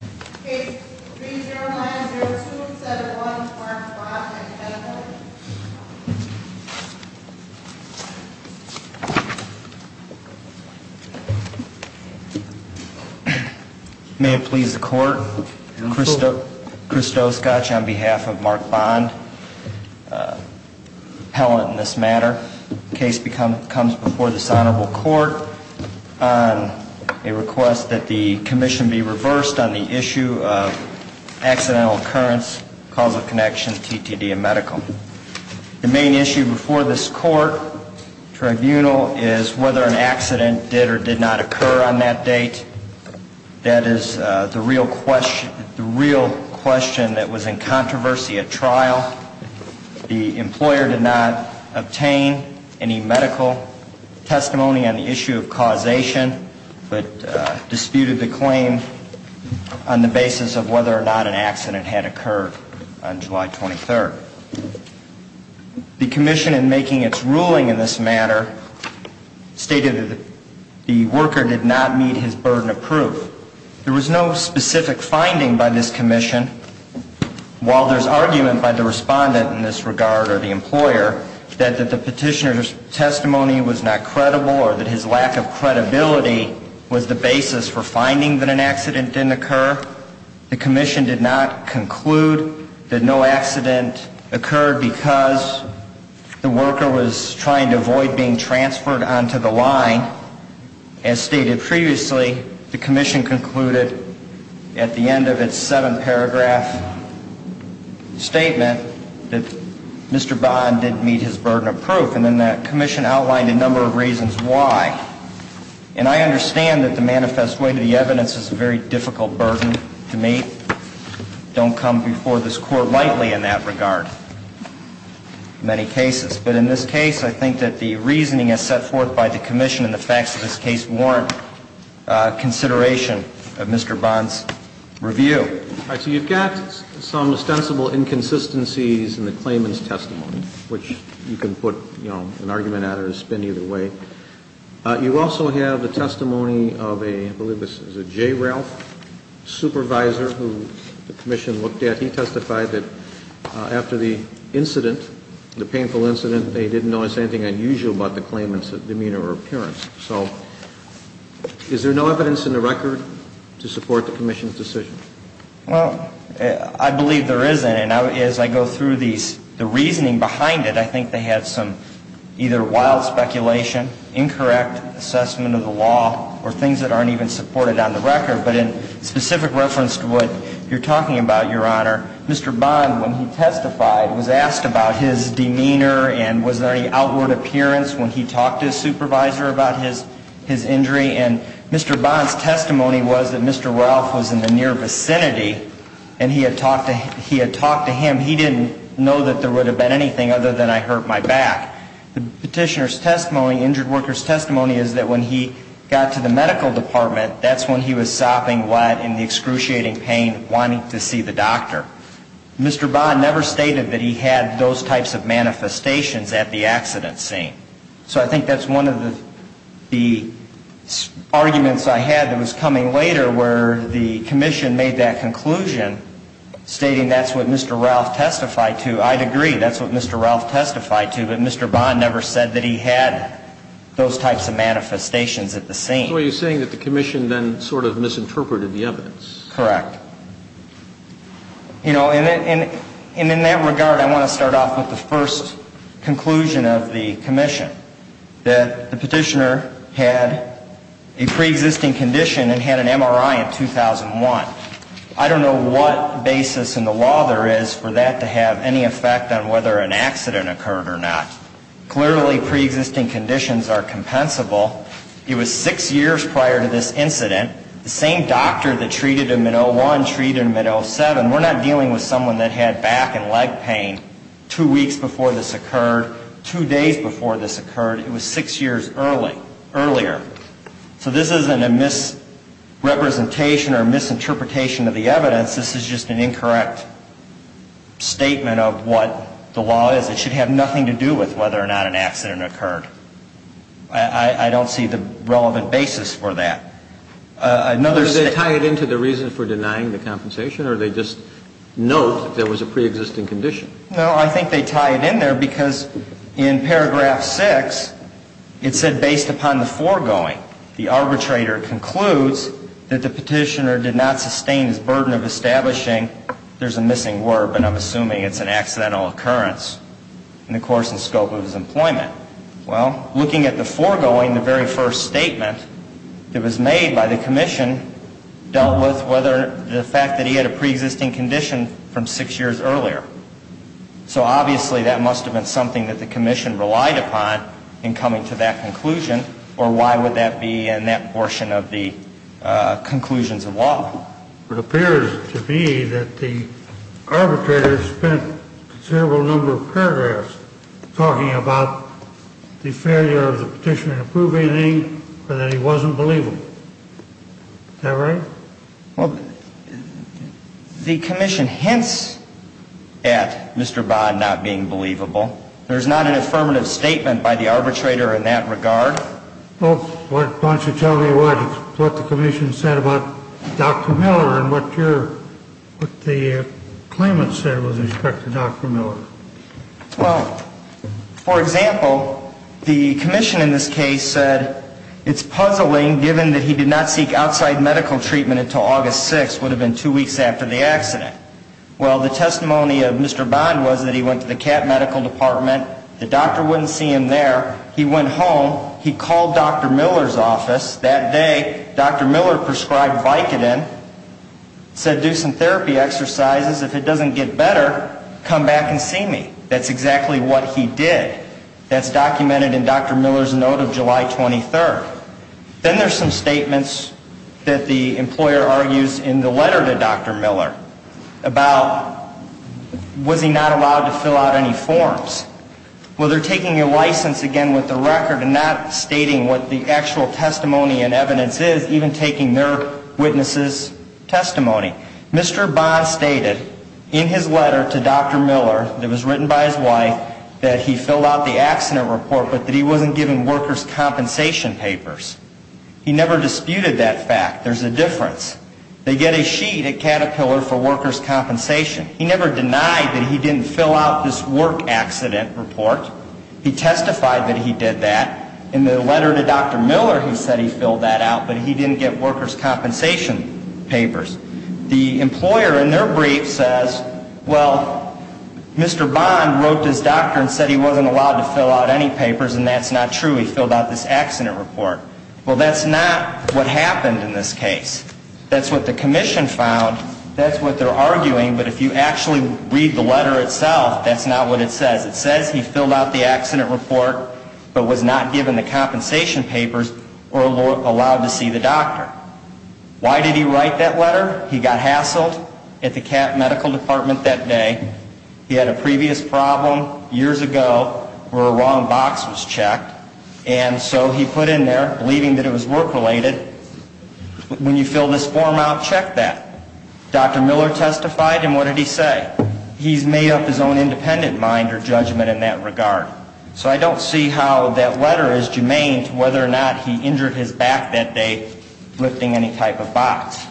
Case 3090271 Mark Bond v. Helen May it please the Court, Christo Scotch on behalf of Mark Bond, Helen in this matter. The case comes before this Honorable Court on a request that the Commission be reversed on the issue of accidental occurrence, causal connection, TTD, and medical. The main issue before this Court Tribunal is whether an accident did or did not occur on that date. That is the real question that was in controversy at trial. The employer did not obtain any medical testimony on the issue of causation, but disputed the claim on the basis of whether or not an accident had occurred on July 23rd. The Commission in making its ruling in this matter stated that the worker did not meet his burden of proof. There was no specific finding by this Commission. While there is regard or the employer that the petitioner's testimony was not credible or that his lack of credibility was the basis for finding that an accident didn't occur, the Commission did not conclude that no accident occurred because the worker was trying to avoid being transferred onto the line. As stated previously, the Commission concluded at the end of its seven-paragraph statement that Mr. Bond did meet his burden of proof, and then the Commission outlined a number of reasons why. And I understand that the manifest way to the evidence is a very difficult burden to meet. Don't come before this Court lightly in that regard in many cases. But in this case, I think that the reasoning as set forth by the Commission and the facts of this case warrant consideration of Mr. Bond's review. All right. So you've got some ostensible inconsistencies in the claimant's testimony, which you can put, you know, an argument at or spin either way. You also have the testimony of a, I believe this is a J. Ralph supervisor who the Commission looked at. He testified that after the incident, the painful incident, they didn't notice anything unusual about the claimant's demeanor or appearance. So is there no evidence in the record to support the Commission's decision? Well, I believe there isn't. And as I go through the reasoning behind it, I think they had some either wild speculation, incorrect assessment of the law, or things that aren't even supported on the record. But in specific reference to what you're talking about, Your Honor, Mr. Bond, when he testified, was asked about his demeanor and was there any evidence that he talked to his supervisor about his injury. And Mr. Bond's testimony was that Mr. Ralph was in the near vicinity and he had talked to him. He didn't know that there would have been anything other than I hurt my back. The petitioner's testimony, injured worker's testimony, is that when he got to the medical department, that's when he was sopping wet in the excruciating pain, wanting to see the doctor. Mr. Bond never said that he had those types of manifestations at the accident scene. So I think that's one of the arguments I had that was coming later where the Commission made that conclusion stating that's what Mr. Ralph testified to. I'd agree, that's what Mr. Ralph testified to, but Mr. Bond never said that he had those types of manifestations at the scene. So you're saying that the Commission then sort of misinterpreted the evidence. Correct. You know, and in that regard, I want to start off with the first conclusion of the Commission, that the petitioner had a preexisting condition and had an MRI in 2001. I don't know what basis in the law there is for that to have any effect on whether an accident occurred or not. Clearly, preexisting conditions are compensable. It was six years prior to this incident. The same doctor that treated him in 2001 treated him in 2007. We're not dealing with someone that had back and leg pain two weeks before this occurred, two days before this occurred. It was six years earlier. So this isn't a misrepresentation or misinterpretation of the evidence. This is just an incorrect statement of what the law is. It should have nothing to do with whether or not an accident occurred. I don't see the relevant basis for that. Another statement... Did they tie it into the reason for denying the compensation, or did they just note that there was a preexisting condition? No, I think they tie it in there because in paragraph 6, it said, based upon the foregoing, the arbitrator concludes that the petitioner did not sustain his burden of establishing – there's a missing word, but I'm assuming it's an accidental occurrence – in the very first statement that was made by the commission dealt with whether the fact that he had a preexisting condition from six years earlier. So obviously that must have been something that the commission relied upon in coming to that conclusion, or why would that be in that portion of the conclusions of law? It appears to me that the arbitrator spent a considerable number of paragraphs talking about the failure of the petitioner to prove anything or that he wasn't believable. Is that right? Well, the commission hints at Mr. Bond not being believable. There's not an affirmative statement by the arbitrator in that regard. Well, why don't you tell me what the commission said about Dr. Miller and what the claimant said with respect to Dr. Miller. Well, for example, the commission in this case said it's puzzling given that he did not seek outside medical treatment until August 6th, would have been two weeks after the accident. Well, the testimony of Mr. Bond was that he went to the CAT medical department. The doctor wouldn't see him there. He went home. He called Dr. Miller's office. That day, Dr. Miller prescribed Vicodin, said do some therapy exercises. If it doesn't get better, come back and see me. That's exactly what he did. That's documented in Dr. Miller's note of July 23rd. Then there's some statements that the employer argues in the letter to Dr. Miller about was he not allowed to fill out any forms. Well, they're taking your license again with the record and not stating what the actual testimony and evidence is, even taking their witness's testimony. Mr. Bond stated in his letter to Dr. Miller that was written by his wife that he filled out the accident report, but that he wasn't given workers' compensation papers. He never disputed that fact. There's a difference. They get a sheet at Caterpillar for workers' compensation. He never denied that he didn't fill out this work accident report. He testified that he did that. In the letter to Dr. Miller, he said he filled that out, but he didn't get workers' compensation papers. The employer in their brief says, well, Mr. Bond wrote to his doctor and said he wasn't allowed to fill out any papers, and that's not true. He filled out this accident report. Well, that's not what happened in this case. That's what the commission found. That's what they're arguing, but if you actually read the letter itself, that's not what it says. It says he filled out the accident report, but was not given the compensation papers or allowed to see the doctor. Why did he write that letter? He got hassled at the CAP medical department that day. He had a previous problem years ago where a wrong box was checked, and so he put in there, believing that it was work-related, when you fill this form out, check that. Dr. Miller testified, and what did he say? He's made up his own independent mind or judgment in that regard. So I don't see how that letter is germane to whether or not he injured his back that day lifting any type of box.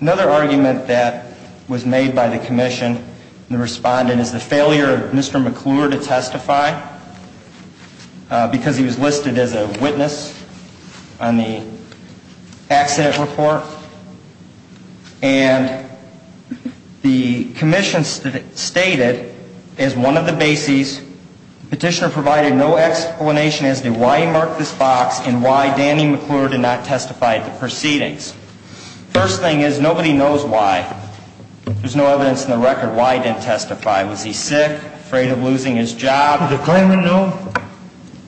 Another argument that was made by the commission and the respondent is the failure of Mr. McClure to testify because he was listed as a witness on the accident report, and the why Danny McClure did not testify at the proceedings. First thing is, nobody knows why. There's no evidence in the record why he didn't testify. Was he sick, afraid of losing his job? Did the claimant know?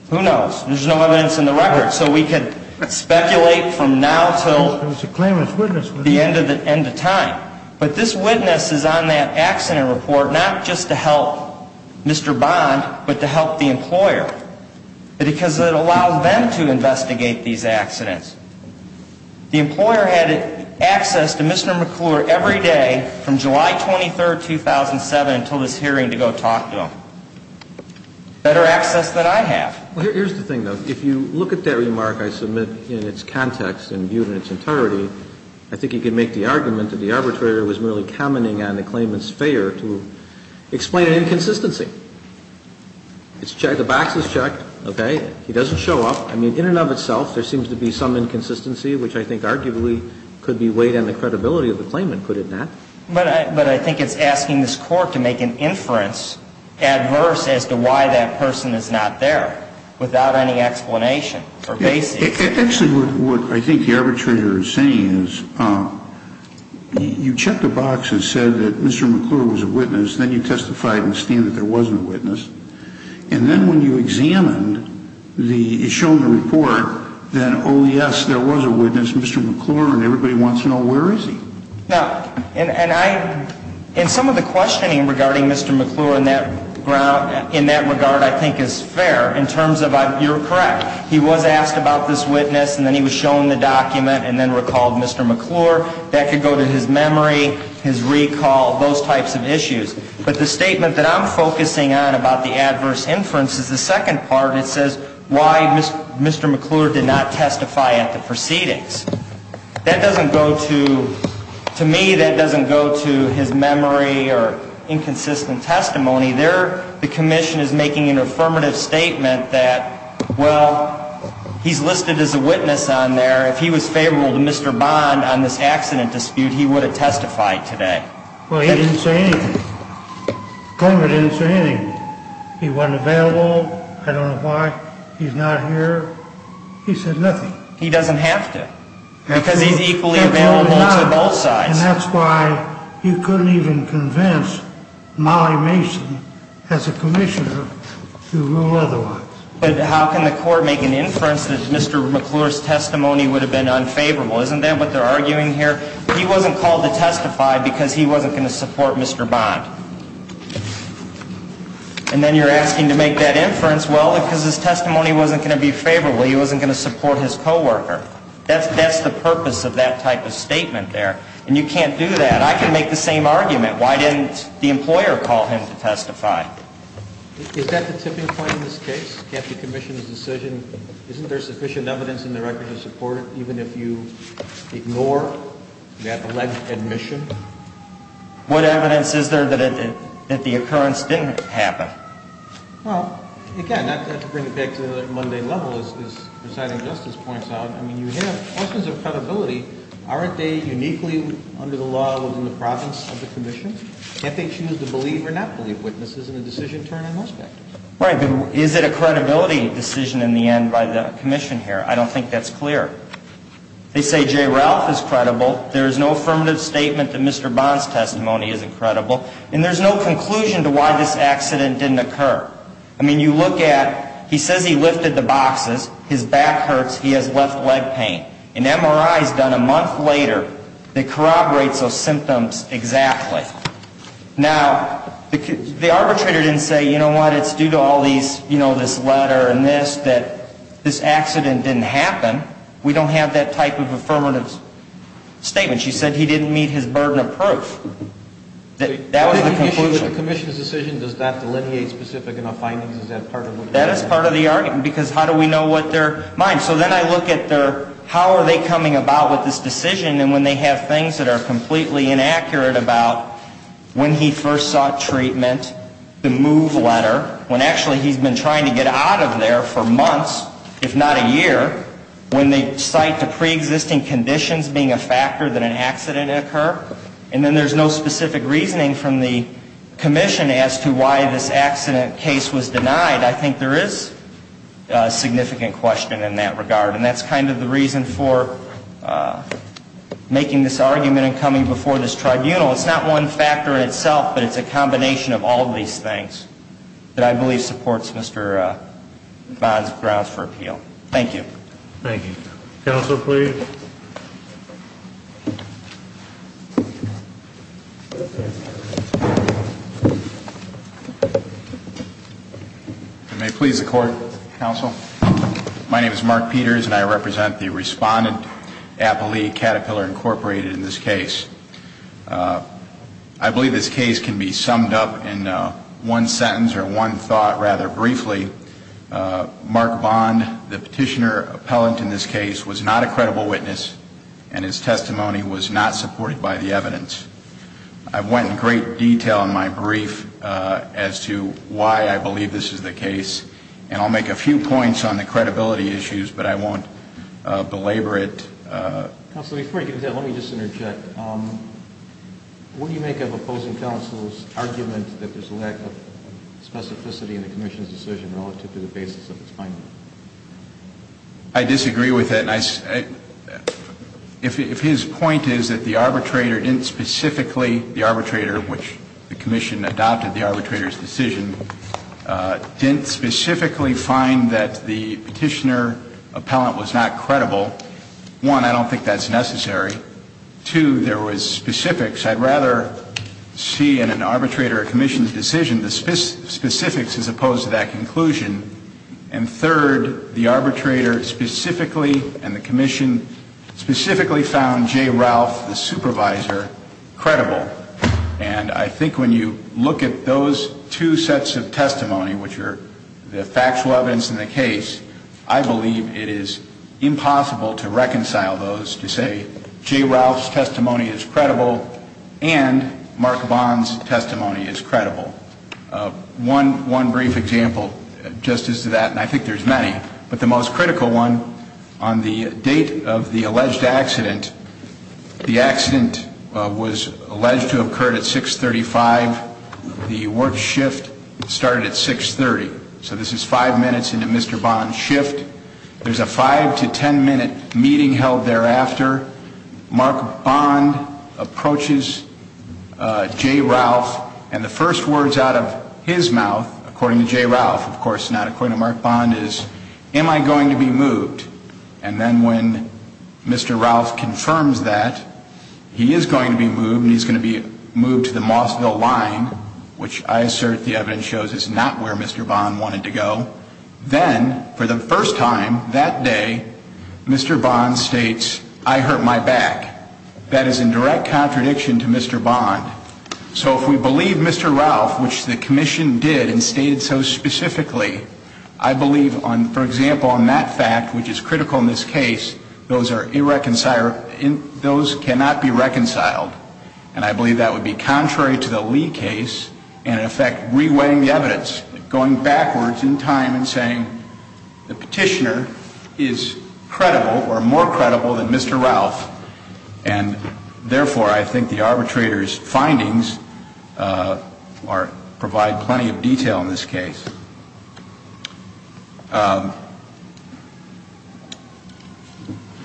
Who knows? There's no evidence in the record. So we could speculate from now until the end of time. But this witness is on that accident report not just to help Mr. Bond, but to help the employer, because it allowed them to investigate these accidents. The employer had access to Mr. McClure every day from July 23rd, 2007, until this hearing to go talk to him. Better access than I have. Well, here's the thing, though. If you look at that remark I submit in its context and viewed in its entirety, I think you can make the argument that the arbitrator was merely commenting on the claimant's failure to explain an inconsistency. The box is checked. Okay? He doesn't show up. I mean, in and of itself, there seems to be some inconsistency, which I think arguably could be weighed on the credibility of the claimant, could it not? But I think it's asking this Court to make an inference adverse as to why that person is not there without any explanation or basis. Actually, what I think the arbitrator is saying is you check the box that said that Mr. McClure was a witness, then you testified in the stand that there wasn't a witness, and then when you examined the, shown the report, then oh, yes, there was a witness, Mr. McClure, and everybody wants to know where is he? Now, and I, and some of the questioning regarding Mr. McClure in that ground, in that regard I think is fair in terms of, you're correct, he was asked about this witness, and then he was shown the document, and then recalled Mr. McClure. That could go to his memory, his recall, those types of issues. But the statement that I'm focusing on about the adverse inference is the second part, and it says why Mr. McClure did not testify at the proceedings. That doesn't go to, to me, that doesn't go to his memory or inconsistent testimony. There, the commission is making an affirmative statement that, well, he's listed as a witness on there. If he was favorable to Mr. Bond on this accident dispute, he would have testified today. Well, he didn't say anything. Coleman didn't say anything. He wasn't available. I don't know why. He's not here. He said nothing. He doesn't have to, because he's equally available to both sides. And that's why you couldn't even convince Molly Mason, as a commissioner, to rule otherwise. But how can the court make an inference that Mr. McClure's testimony would have been unfavorable? Isn't that what they're arguing here? He wasn't called to testify because he wasn't going to support Mr. Bond. And then you're asking to make that inference, well, because his testimony wasn't going to be favorable. He wasn't going to support his co-worker. That's the purpose of that type of statement there. And you can't do that. I can make the same argument. Why didn't the employer call him to testify? Is that the tipping point in this case? Can't the commission's decision, isn't there sufficient evidence in the record to support it, even if you ignore that alleged admission? What evidence is there that the occurrence didn't happen? Well, again, not to bring it back to the Monday level, as Presiding Justice points out, I mean, you have dozens of credibility. Aren't they uniquely, under the law, within the province of the commission? Can't they choose to believe or not believe witnesses in a decision turned on those factors? Right, but is it a credibility decision in the end by the commission here? I don't think that's clear. They say J. Ralph is credible. There is no affirmative statement that Mr. I mean, you look at, he says he lifted the boxes. His back hurts. He has left leg pain. An MRI is done a month later that corroborates those symptoms exactly. Now, the arbitrator didn't say, you know what, it's due to all these, you know, this letter and this, that this accident didn't happen. We don't have that type of affirmative statement. She said he didn't meet his burden of proof. That was the conclusion. The commission's decision, does that delineate specific enough findings? Is that part of the argument? That is part of the argument, because how do we know what their mind? So then I look at their, how are they coming about with this decision, and when they have things that are completely inaccurate about when he first sought treatment, the move letter, when actually he's been trying to get out of there for months, if not a year, when they cite the preexisting conditions being a factor that an accident occurred, and then there's no specific reasoning from the commission as to why this accident case was denied, I think there is a significant question in that regard. And that's kind of the reason for making this argument and coming before this tribunal. It's not one factor in itself, but it's a combination of all these things that I believe supports Mr. Bond's grounds for appeal. Thank you. Thank you. Counsel, please. If I may please the court, counsel. My name is Mark Peters, and I represent the respondent, Appali Caterpillar Incorporated, in this case. I believe this case can be summed up in one sentence or one thought rather briefly. Mark Bond, the petitioner appellant in this case, was not a credible witness, and his testimony was not supported by the evidence. I went in great detail in my brief as to why I believe this is the case, and I'll make a few points on the credibility issues, but I won't belabor it. Counsel, before you do that, let me just interject. What do you make of opposing counsel's argument that there's a lack of specificity in the commission's decision relative to the basis of its finding? I disagree with that. If his point is that the arbitrator didn't specifically the arbitrator, which the commission adopted the arbitrator's decision, didn't specifically find that the petitioner appellant was not credible, one, I don't think that's necessary. Two, there was specifics. I'd rather see in an arbitrator or commission's decision the specifics as opposed to that conclusion. And third, the arbitrator specifically and the commission specifically found Jay Ralph, the supervisor, credible. And I think when you look at those two sets of testimony, which are the factual evidence in the case, I believe it is impossible to reconcile those to say Jay Ralph's testimony is credible and Mark Bond's testimony is credible. One brief example just as to that, and I think there's many, but the most critical one, on the date of the alleged accident, the accident was alleged to have occurred at 635. The work shift started at 630. So this is five minutes into Mr. Bond's shift. There's a five to ten minute meeting held thereafter. Mark Bond approaches Jay Ralph, and the first words out of his mouth, according to Jay Ralph, of course not according to Mark Bond, is, am I going to be moved? And then when Mr. Ralph confirms that, he is going to be moved and he's going to be moved to the Mossville line, which I assert the evidence shows is not where Mr. Bond wanted to go, then for the first time that day, Mr. Bond states, I hurt my back. That is in direct contradiction to Mr. Bond. So if we believe Mr. Ralph, which the commission did and those cannot be reconciled, and I believe that would be contrary to the Lee case and in effect re-weighing the evidence, going backwards in time and saying the petitioner is credible or more credible than Mr. Ralph, and therefore I think the arbitrator's findings provide plenty of detail in this case.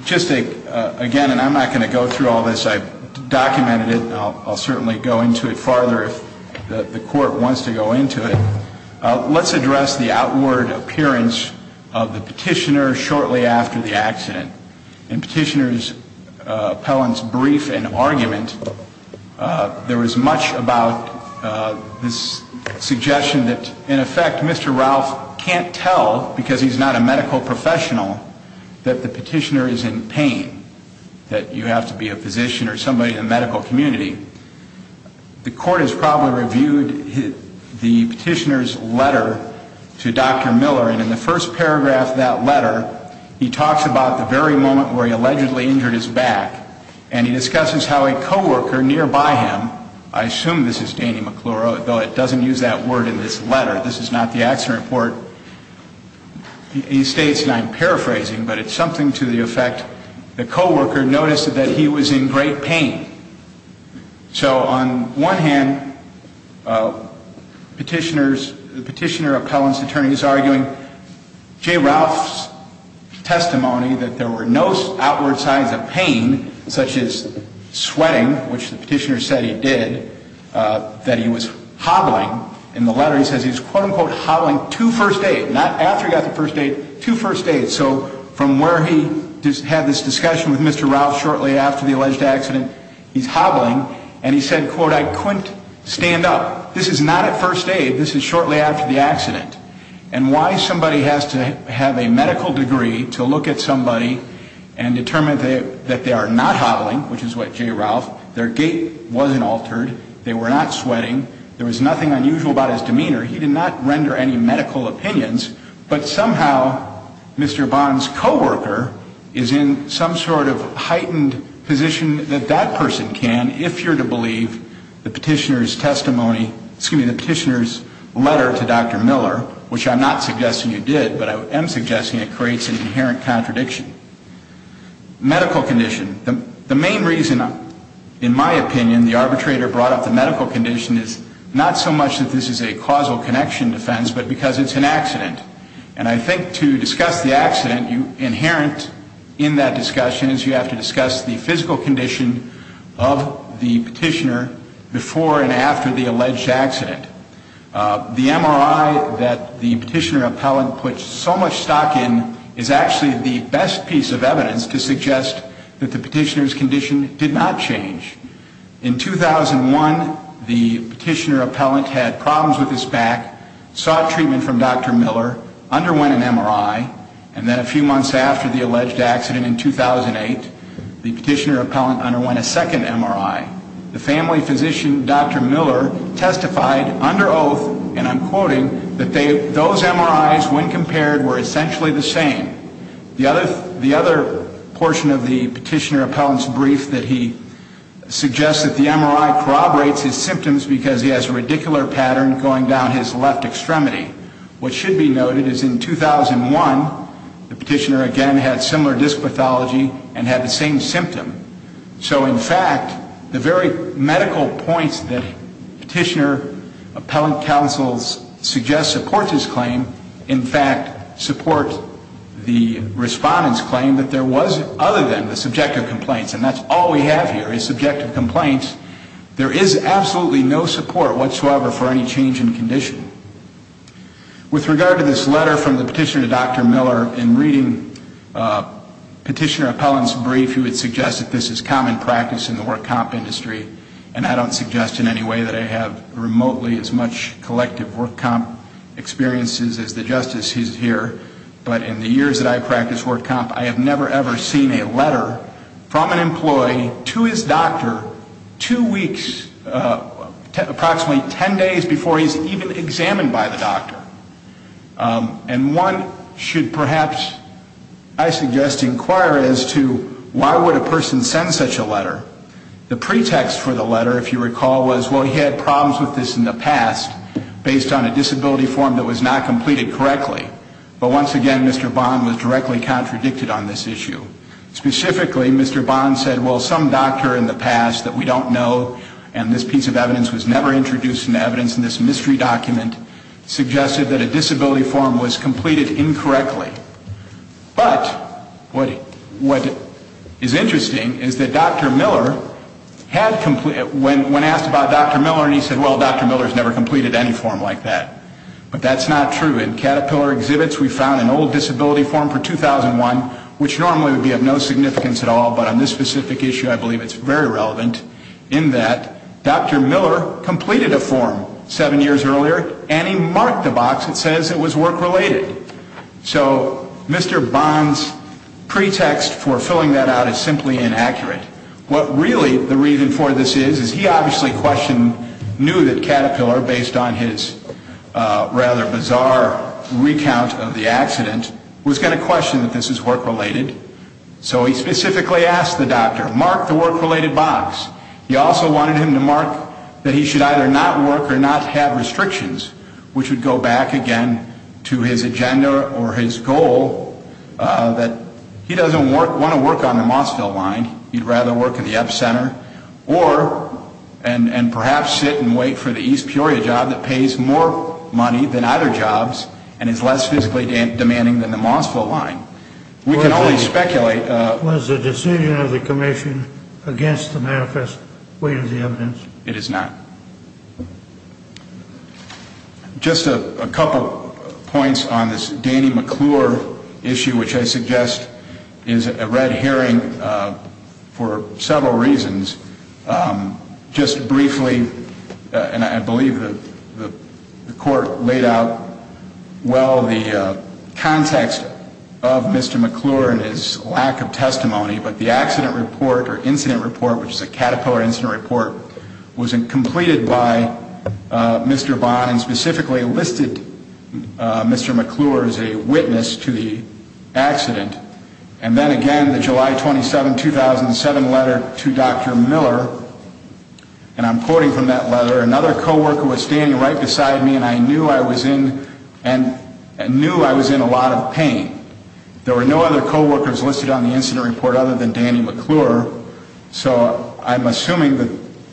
Just again, and I'm not going to go through all this. I've documented it. I'll certainly go into it farther if the court wants to go into it. Let's address the outward appearance of the petitioner shortly after the accident. In petitioner's appellant's brief and argument, there was much about this that Mr. Ralph can't tell, because he's not a medical professional, that the petitioner is in pain. That you have to be a physician or somebody in the medical community. The court has probably reviewed the petitioner's letter to Dr. Miller, and in the first paragraph of that letter, he talks about the very moment where he allegedly injured his back, and he discusses how a the accident report, he states, and I'm paraphrasing, but it's something to the effect the coworker noticed that he was in great pain. So on one hand, the petitioner appellant's attorney is arguing J. Ralph's testimony that there were no outward signs of pain, such as sweating, which the petitioner said he did, that he was hobbling. In the letter, he says he was hobbling to first aid, not after he got to first aid, to first aid. So from where he had this discussion with Mr. Ralph shortly after the alleged accident, he's hobbling, and he said, I couldn't stand up. This is not at first aid. This is shortly after the accident. And why somebody has to have a altered, they were not sweating, there was nothing unusual about his demeanor. He did not render any medical opinions, but somehow Mr. Bond's coworker is in some sort of heightened position that that person can, if you're to believe the petitioner's testimony, excuse me, the petitioner's letter to Dr. Miller, which I'm not suggesting you did, but I am suggesting it creates an inherent contradiction. Medical condition. The main reason, in my opinion, the arbitrator brought up the medical condition is not so much that this is a causal connection defense, but because it's an accident. And I think to discuss the accident, inherent in that discussion is you have to discuss the physical condition of the petitioner before and after the alleged accident. The MRI that the petitioner appellant put so much stock in is actually the best piece of evidence to suggest that the petitioner's condition did not change. In 2001, the petitioner appellant had problems with his back, sought treatment from Dr. Miller, underwent an MRI, and then a few months after the alleged accident in 2008, the petitioner appellant underwent a second MRI. The family physician, Dr. Miller, testified under oath, and I'm quoting, that those MRIs, when compared, were essentially the same. The other portion of the petitioner appellant's brief that he suggests that the MRI corroborates his symptoms because he has a radicular pattern going down his left extremity. What should be noted is in 2001, the MRI did not change. So, in fact, the very medical points that petitioner appellant counsels suggest support this claim, in fact, support the respondent's claim that there was, other than the subjective complaints, and that's all we have here is subjective complaints, there is absolutely no support whatsoever for any change in condition. With regard to this letter from the petitioner appellant, I think that this is common practice in the work comp industry, and I don't suggest in any way that I have remotely as much collective work comp experiences as the justice who's here, but in the years that I've practiced work comp, I have never, ever seen a letter from an employee to his doctor two weeks, approximately 10 days before he's even examined by the doctor. And one should perhaps, I suggest, inquire as to why would a person send such a letter. The pretext for the letter, if you recall, was well, he had problems with this in the past based on a disability form that was not completed correctly, but once again, Mr. Bond was directly contradicted on this issue. Specifically, Mr. Bond said, well, some doctor in the past that we don't know, and this piece of paper suggested that a disability form was completed incorrectly, but what is interesting is that Dr. Miller, when asked about Dr. Miller, he said, well, Dr. Miller's never completed any form like that, but that's not true. In Caterpillar exhibits, we found an old disability form for 2001, which normally would be of no significance at all, but on this specific issue, I believe it's very relevant in that Dr. Miller completed a form seven years earlier, and he marked the box that says it was work-related. So Mr. Bond's pretext for filling that out is simply inaccurate. What really the reason for this is, is he obviously knew that Caterpillar, based on his rather bizarre recount of the accident, was going to question that this is work-related, so he specifically asked the doctor, mark the work- related, and he also wanted him to mark that he should either not work or not have restrictions, which would go back, again, to his agenda or his goal that he doesn't want to work on the Mossville line, he'd rather work in the epicenter, or, and perhaps sit and wait for the East Peoria job that pays more money than either jobs and is less physically demanding than the Mossville line. We can only speculate. Was the decision of the commission against the manifest weight of the evidence? It is not. Just a couple points on this Danny McClure issue, which I suggest is a red herring for several reasons. Just briefly, and I believe the court laid out well the lack of testimony, but the accident report, or incident report, which is a Caterpillar incident report, was completed by Mr. Bond and specifically listed Mr. McClure as a witness to the accident. And then again, the July 27, 2007 letter to Dr. Miller, and I'm quoting from that letter, another coworker was standing right beside me and I knew I was in a lot of pain. There were no other coworkers listed on the incident report other than Danny McClure. So I'm assuming that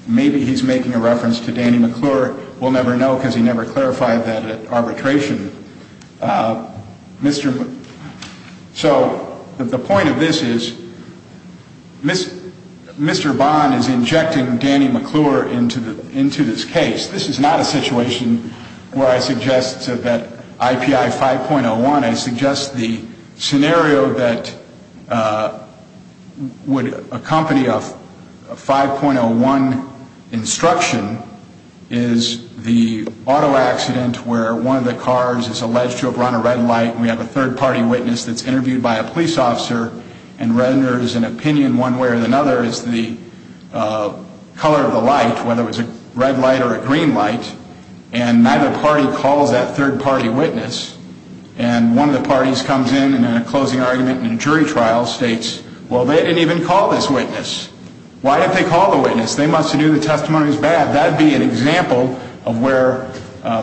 maybe he's making a reference to Danny McClure. We'll never know because he never clarified that at arbitration. So the point of this is, Mr. Bond is injecting Danny McClure into this case. This is not a situation where I suggest that IPI 5.01, I suggest the scenario that Mr. McClure was involved in, that he was involved in, would accompany a 5.01 instruction is the auto accident where one of the cars is alleged to have run a red light and we have a third party witness that's interviewed by a police officer and renders an opinion one way or another as the color of the light, whether it's a red light or a green light, and neither party calls that third party witness. And one of the parties comes in and in a closing argument in a jury trial states, well, they didn't even call this witness. Why did they call the witness? They must have knew the testimony was bad. That would be an example of where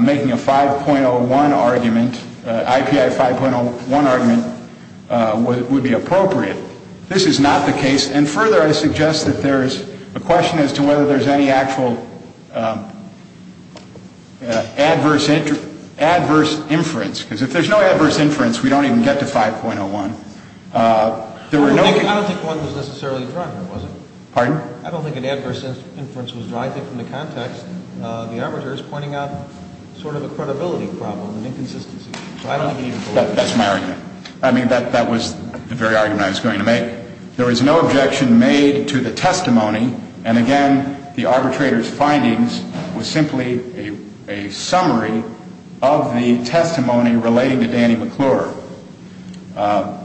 making a 5.01 argument, IPI 5.01 argument, would be appropriate. This is not the case. And further, I suggest that there's a question as to whether there's any actual adverse inference. Because if there's no adverse inference, we don't even get to 5.01. There were no... I don't think one was necessarily drunk, was it? Pardon? I don't think an adverse inference was drunk. I think from the context, the arbitrator is pointing out sort of a credibility problem, an inconsistency. So I don't believe... That's my argument. I mean, that was the very argument I was going to make. There was no objection made to the testimony. And, again, the arbitrator's findings was simply a summary of the testimony relating to Danny McClure. I don't think there's any adverse inference.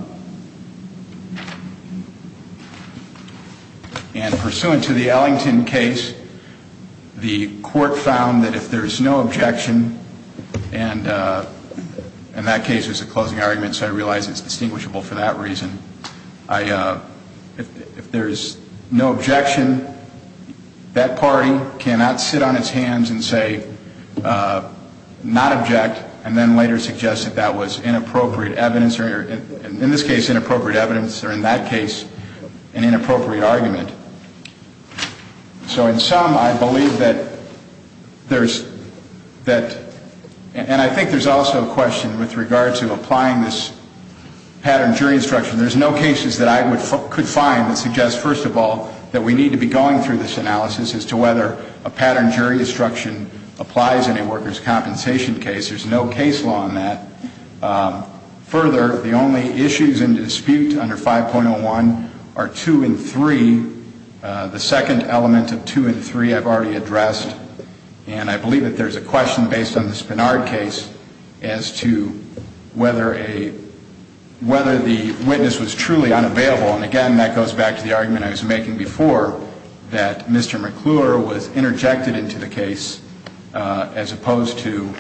And pursuant to the Ellington case, the court found that if there's no objection, and that case was a closing argument, so I realize it's distinguishable for that reason. If there's no objection, that party cannot sit on its hands and say, not object, and then later suggest that that was inappropriate evidence, or in this case, inappropriate evidence, or in that case, an inappropriate argument. So in sum, I believe that there's that... And I think there's also a question with regard to applying this pattern jury instruction. There's no cases that I could find that suggest, first of all, that we need to be going through this analysis as to whether a pattern jury instruction applies in a workers' compensation case. There's no case law on that. Further, the only issues in dispute under 5.01 are 2 and 3, the second element of 2 and 3 I've already addressed. And I believe that there's a question based on the Spenard case as to whether a... Whether the witness was truly unavailable. And, again, that goes back to the Spenard case as opposed to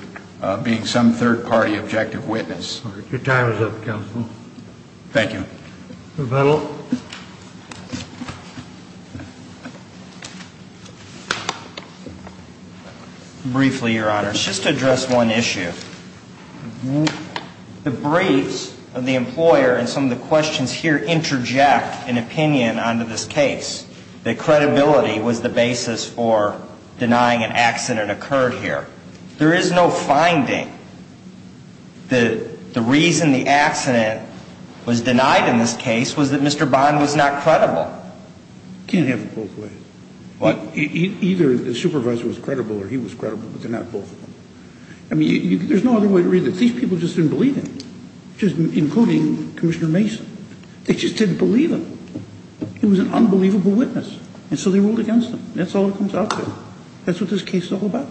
being some third-party objective witness. Your time is up, counsel. Thank you. Mr. Vettel. Briefly, Your Honor, just to address one issue. The briefs of the employer and some of the questions here interject an opinion onto this case, that there is no finding that the reason the accident was denied in this case was that Mr. Bond was not credible. Can't have it both ways. What? Either the supervisor was credible or he was credible, but they're not both. I mean, there's no other way to read it. These people just didn't believe him, including Commissioner Mason. They just didn't believe him. He was an unbelievable witness. And so they ruled against him. That's all it is. Well,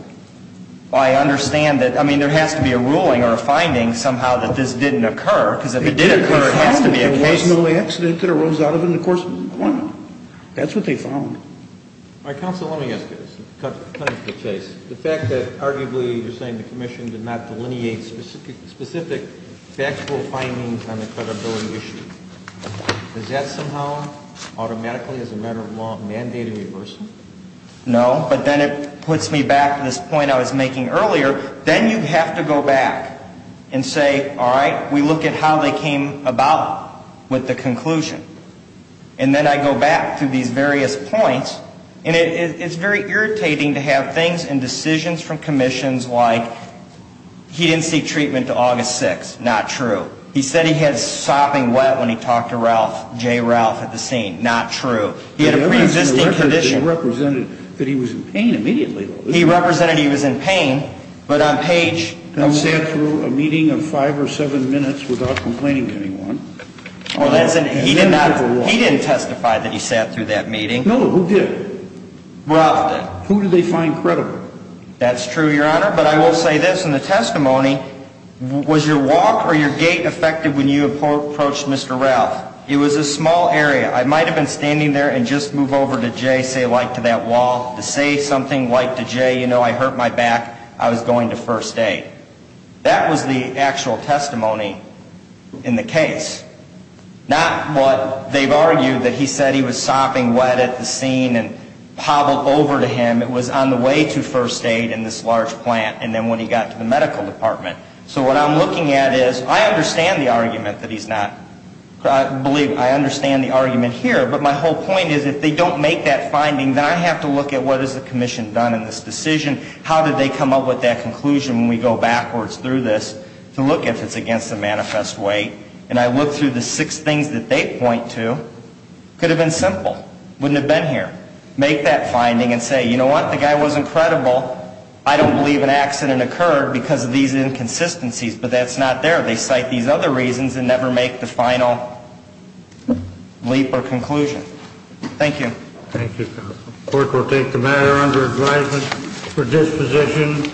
I understand that. I mean, there has to be a ruling or a finding somehow that this didn't occur, because if it did occur, it has to be a case. They found that there was no accident that arose out of it in the course of the appointment. That's what they found. All right, counsel, let me ask you this. The fact that, arguably, you're saying the commission did not delineate specific factual findings on the credibility issue, does that somehow automatically, as a matter of law, mandate a reversal? No, but then it puts me back to this point I was making earlier. Then you have to go back and say, all right, we look at how they came about with the conclusion. And then I go back through these various points, and it's very irritating to have things and decisions from commissions like he didn't seek treatment until August 6th. Not true. He said he had sopping wet when he talked to Ralph, J. Ralph, at the scene. Not true. He had a preexisting condition. He represented that he was in pain immediately, though. He represented he was in pain, but on page He sat through a meeting of five or seven minutes without complaining to anyone. He didn't testify that he sat through that meeting. No, who did? Ralph did. Who did they find credible? That's true, Your Honor, but I will say this in the testimony, was your walk or your gait affected when you approached Mr. Ralph? It was a small area. I might have been standing there and just move over to J., say like to that wall, to say something like to J., you know, I hurt my back, I was going to first aid. That was the actual testimony in the case. Not what they've argued, that he said he was sopping wet at the scene and hobbled over to him. It was on the way to first aid in this large plant, and then when he got to the medical department. So what I'm looking at is, I understand the argument that he's not, I believe, I understand the argument here, but my whole point is if they don't make that finding, then I have to look at what has the commission done in this decision, how did they come up with that conclusion when we go backwards through this to look if it's against the manifest way. And I look through the six things that they point to. Could have been simple. Wouldn't have been here. Make that finding and say, you know what, the guy wasn't credible. I don't believe an accident occurred because of these inconsistencies. But that's not there. They cite these other reasons and never make the final leap or conclusion. Thank you. Thank you, counsel. The court will take the matter under advisement for disposition.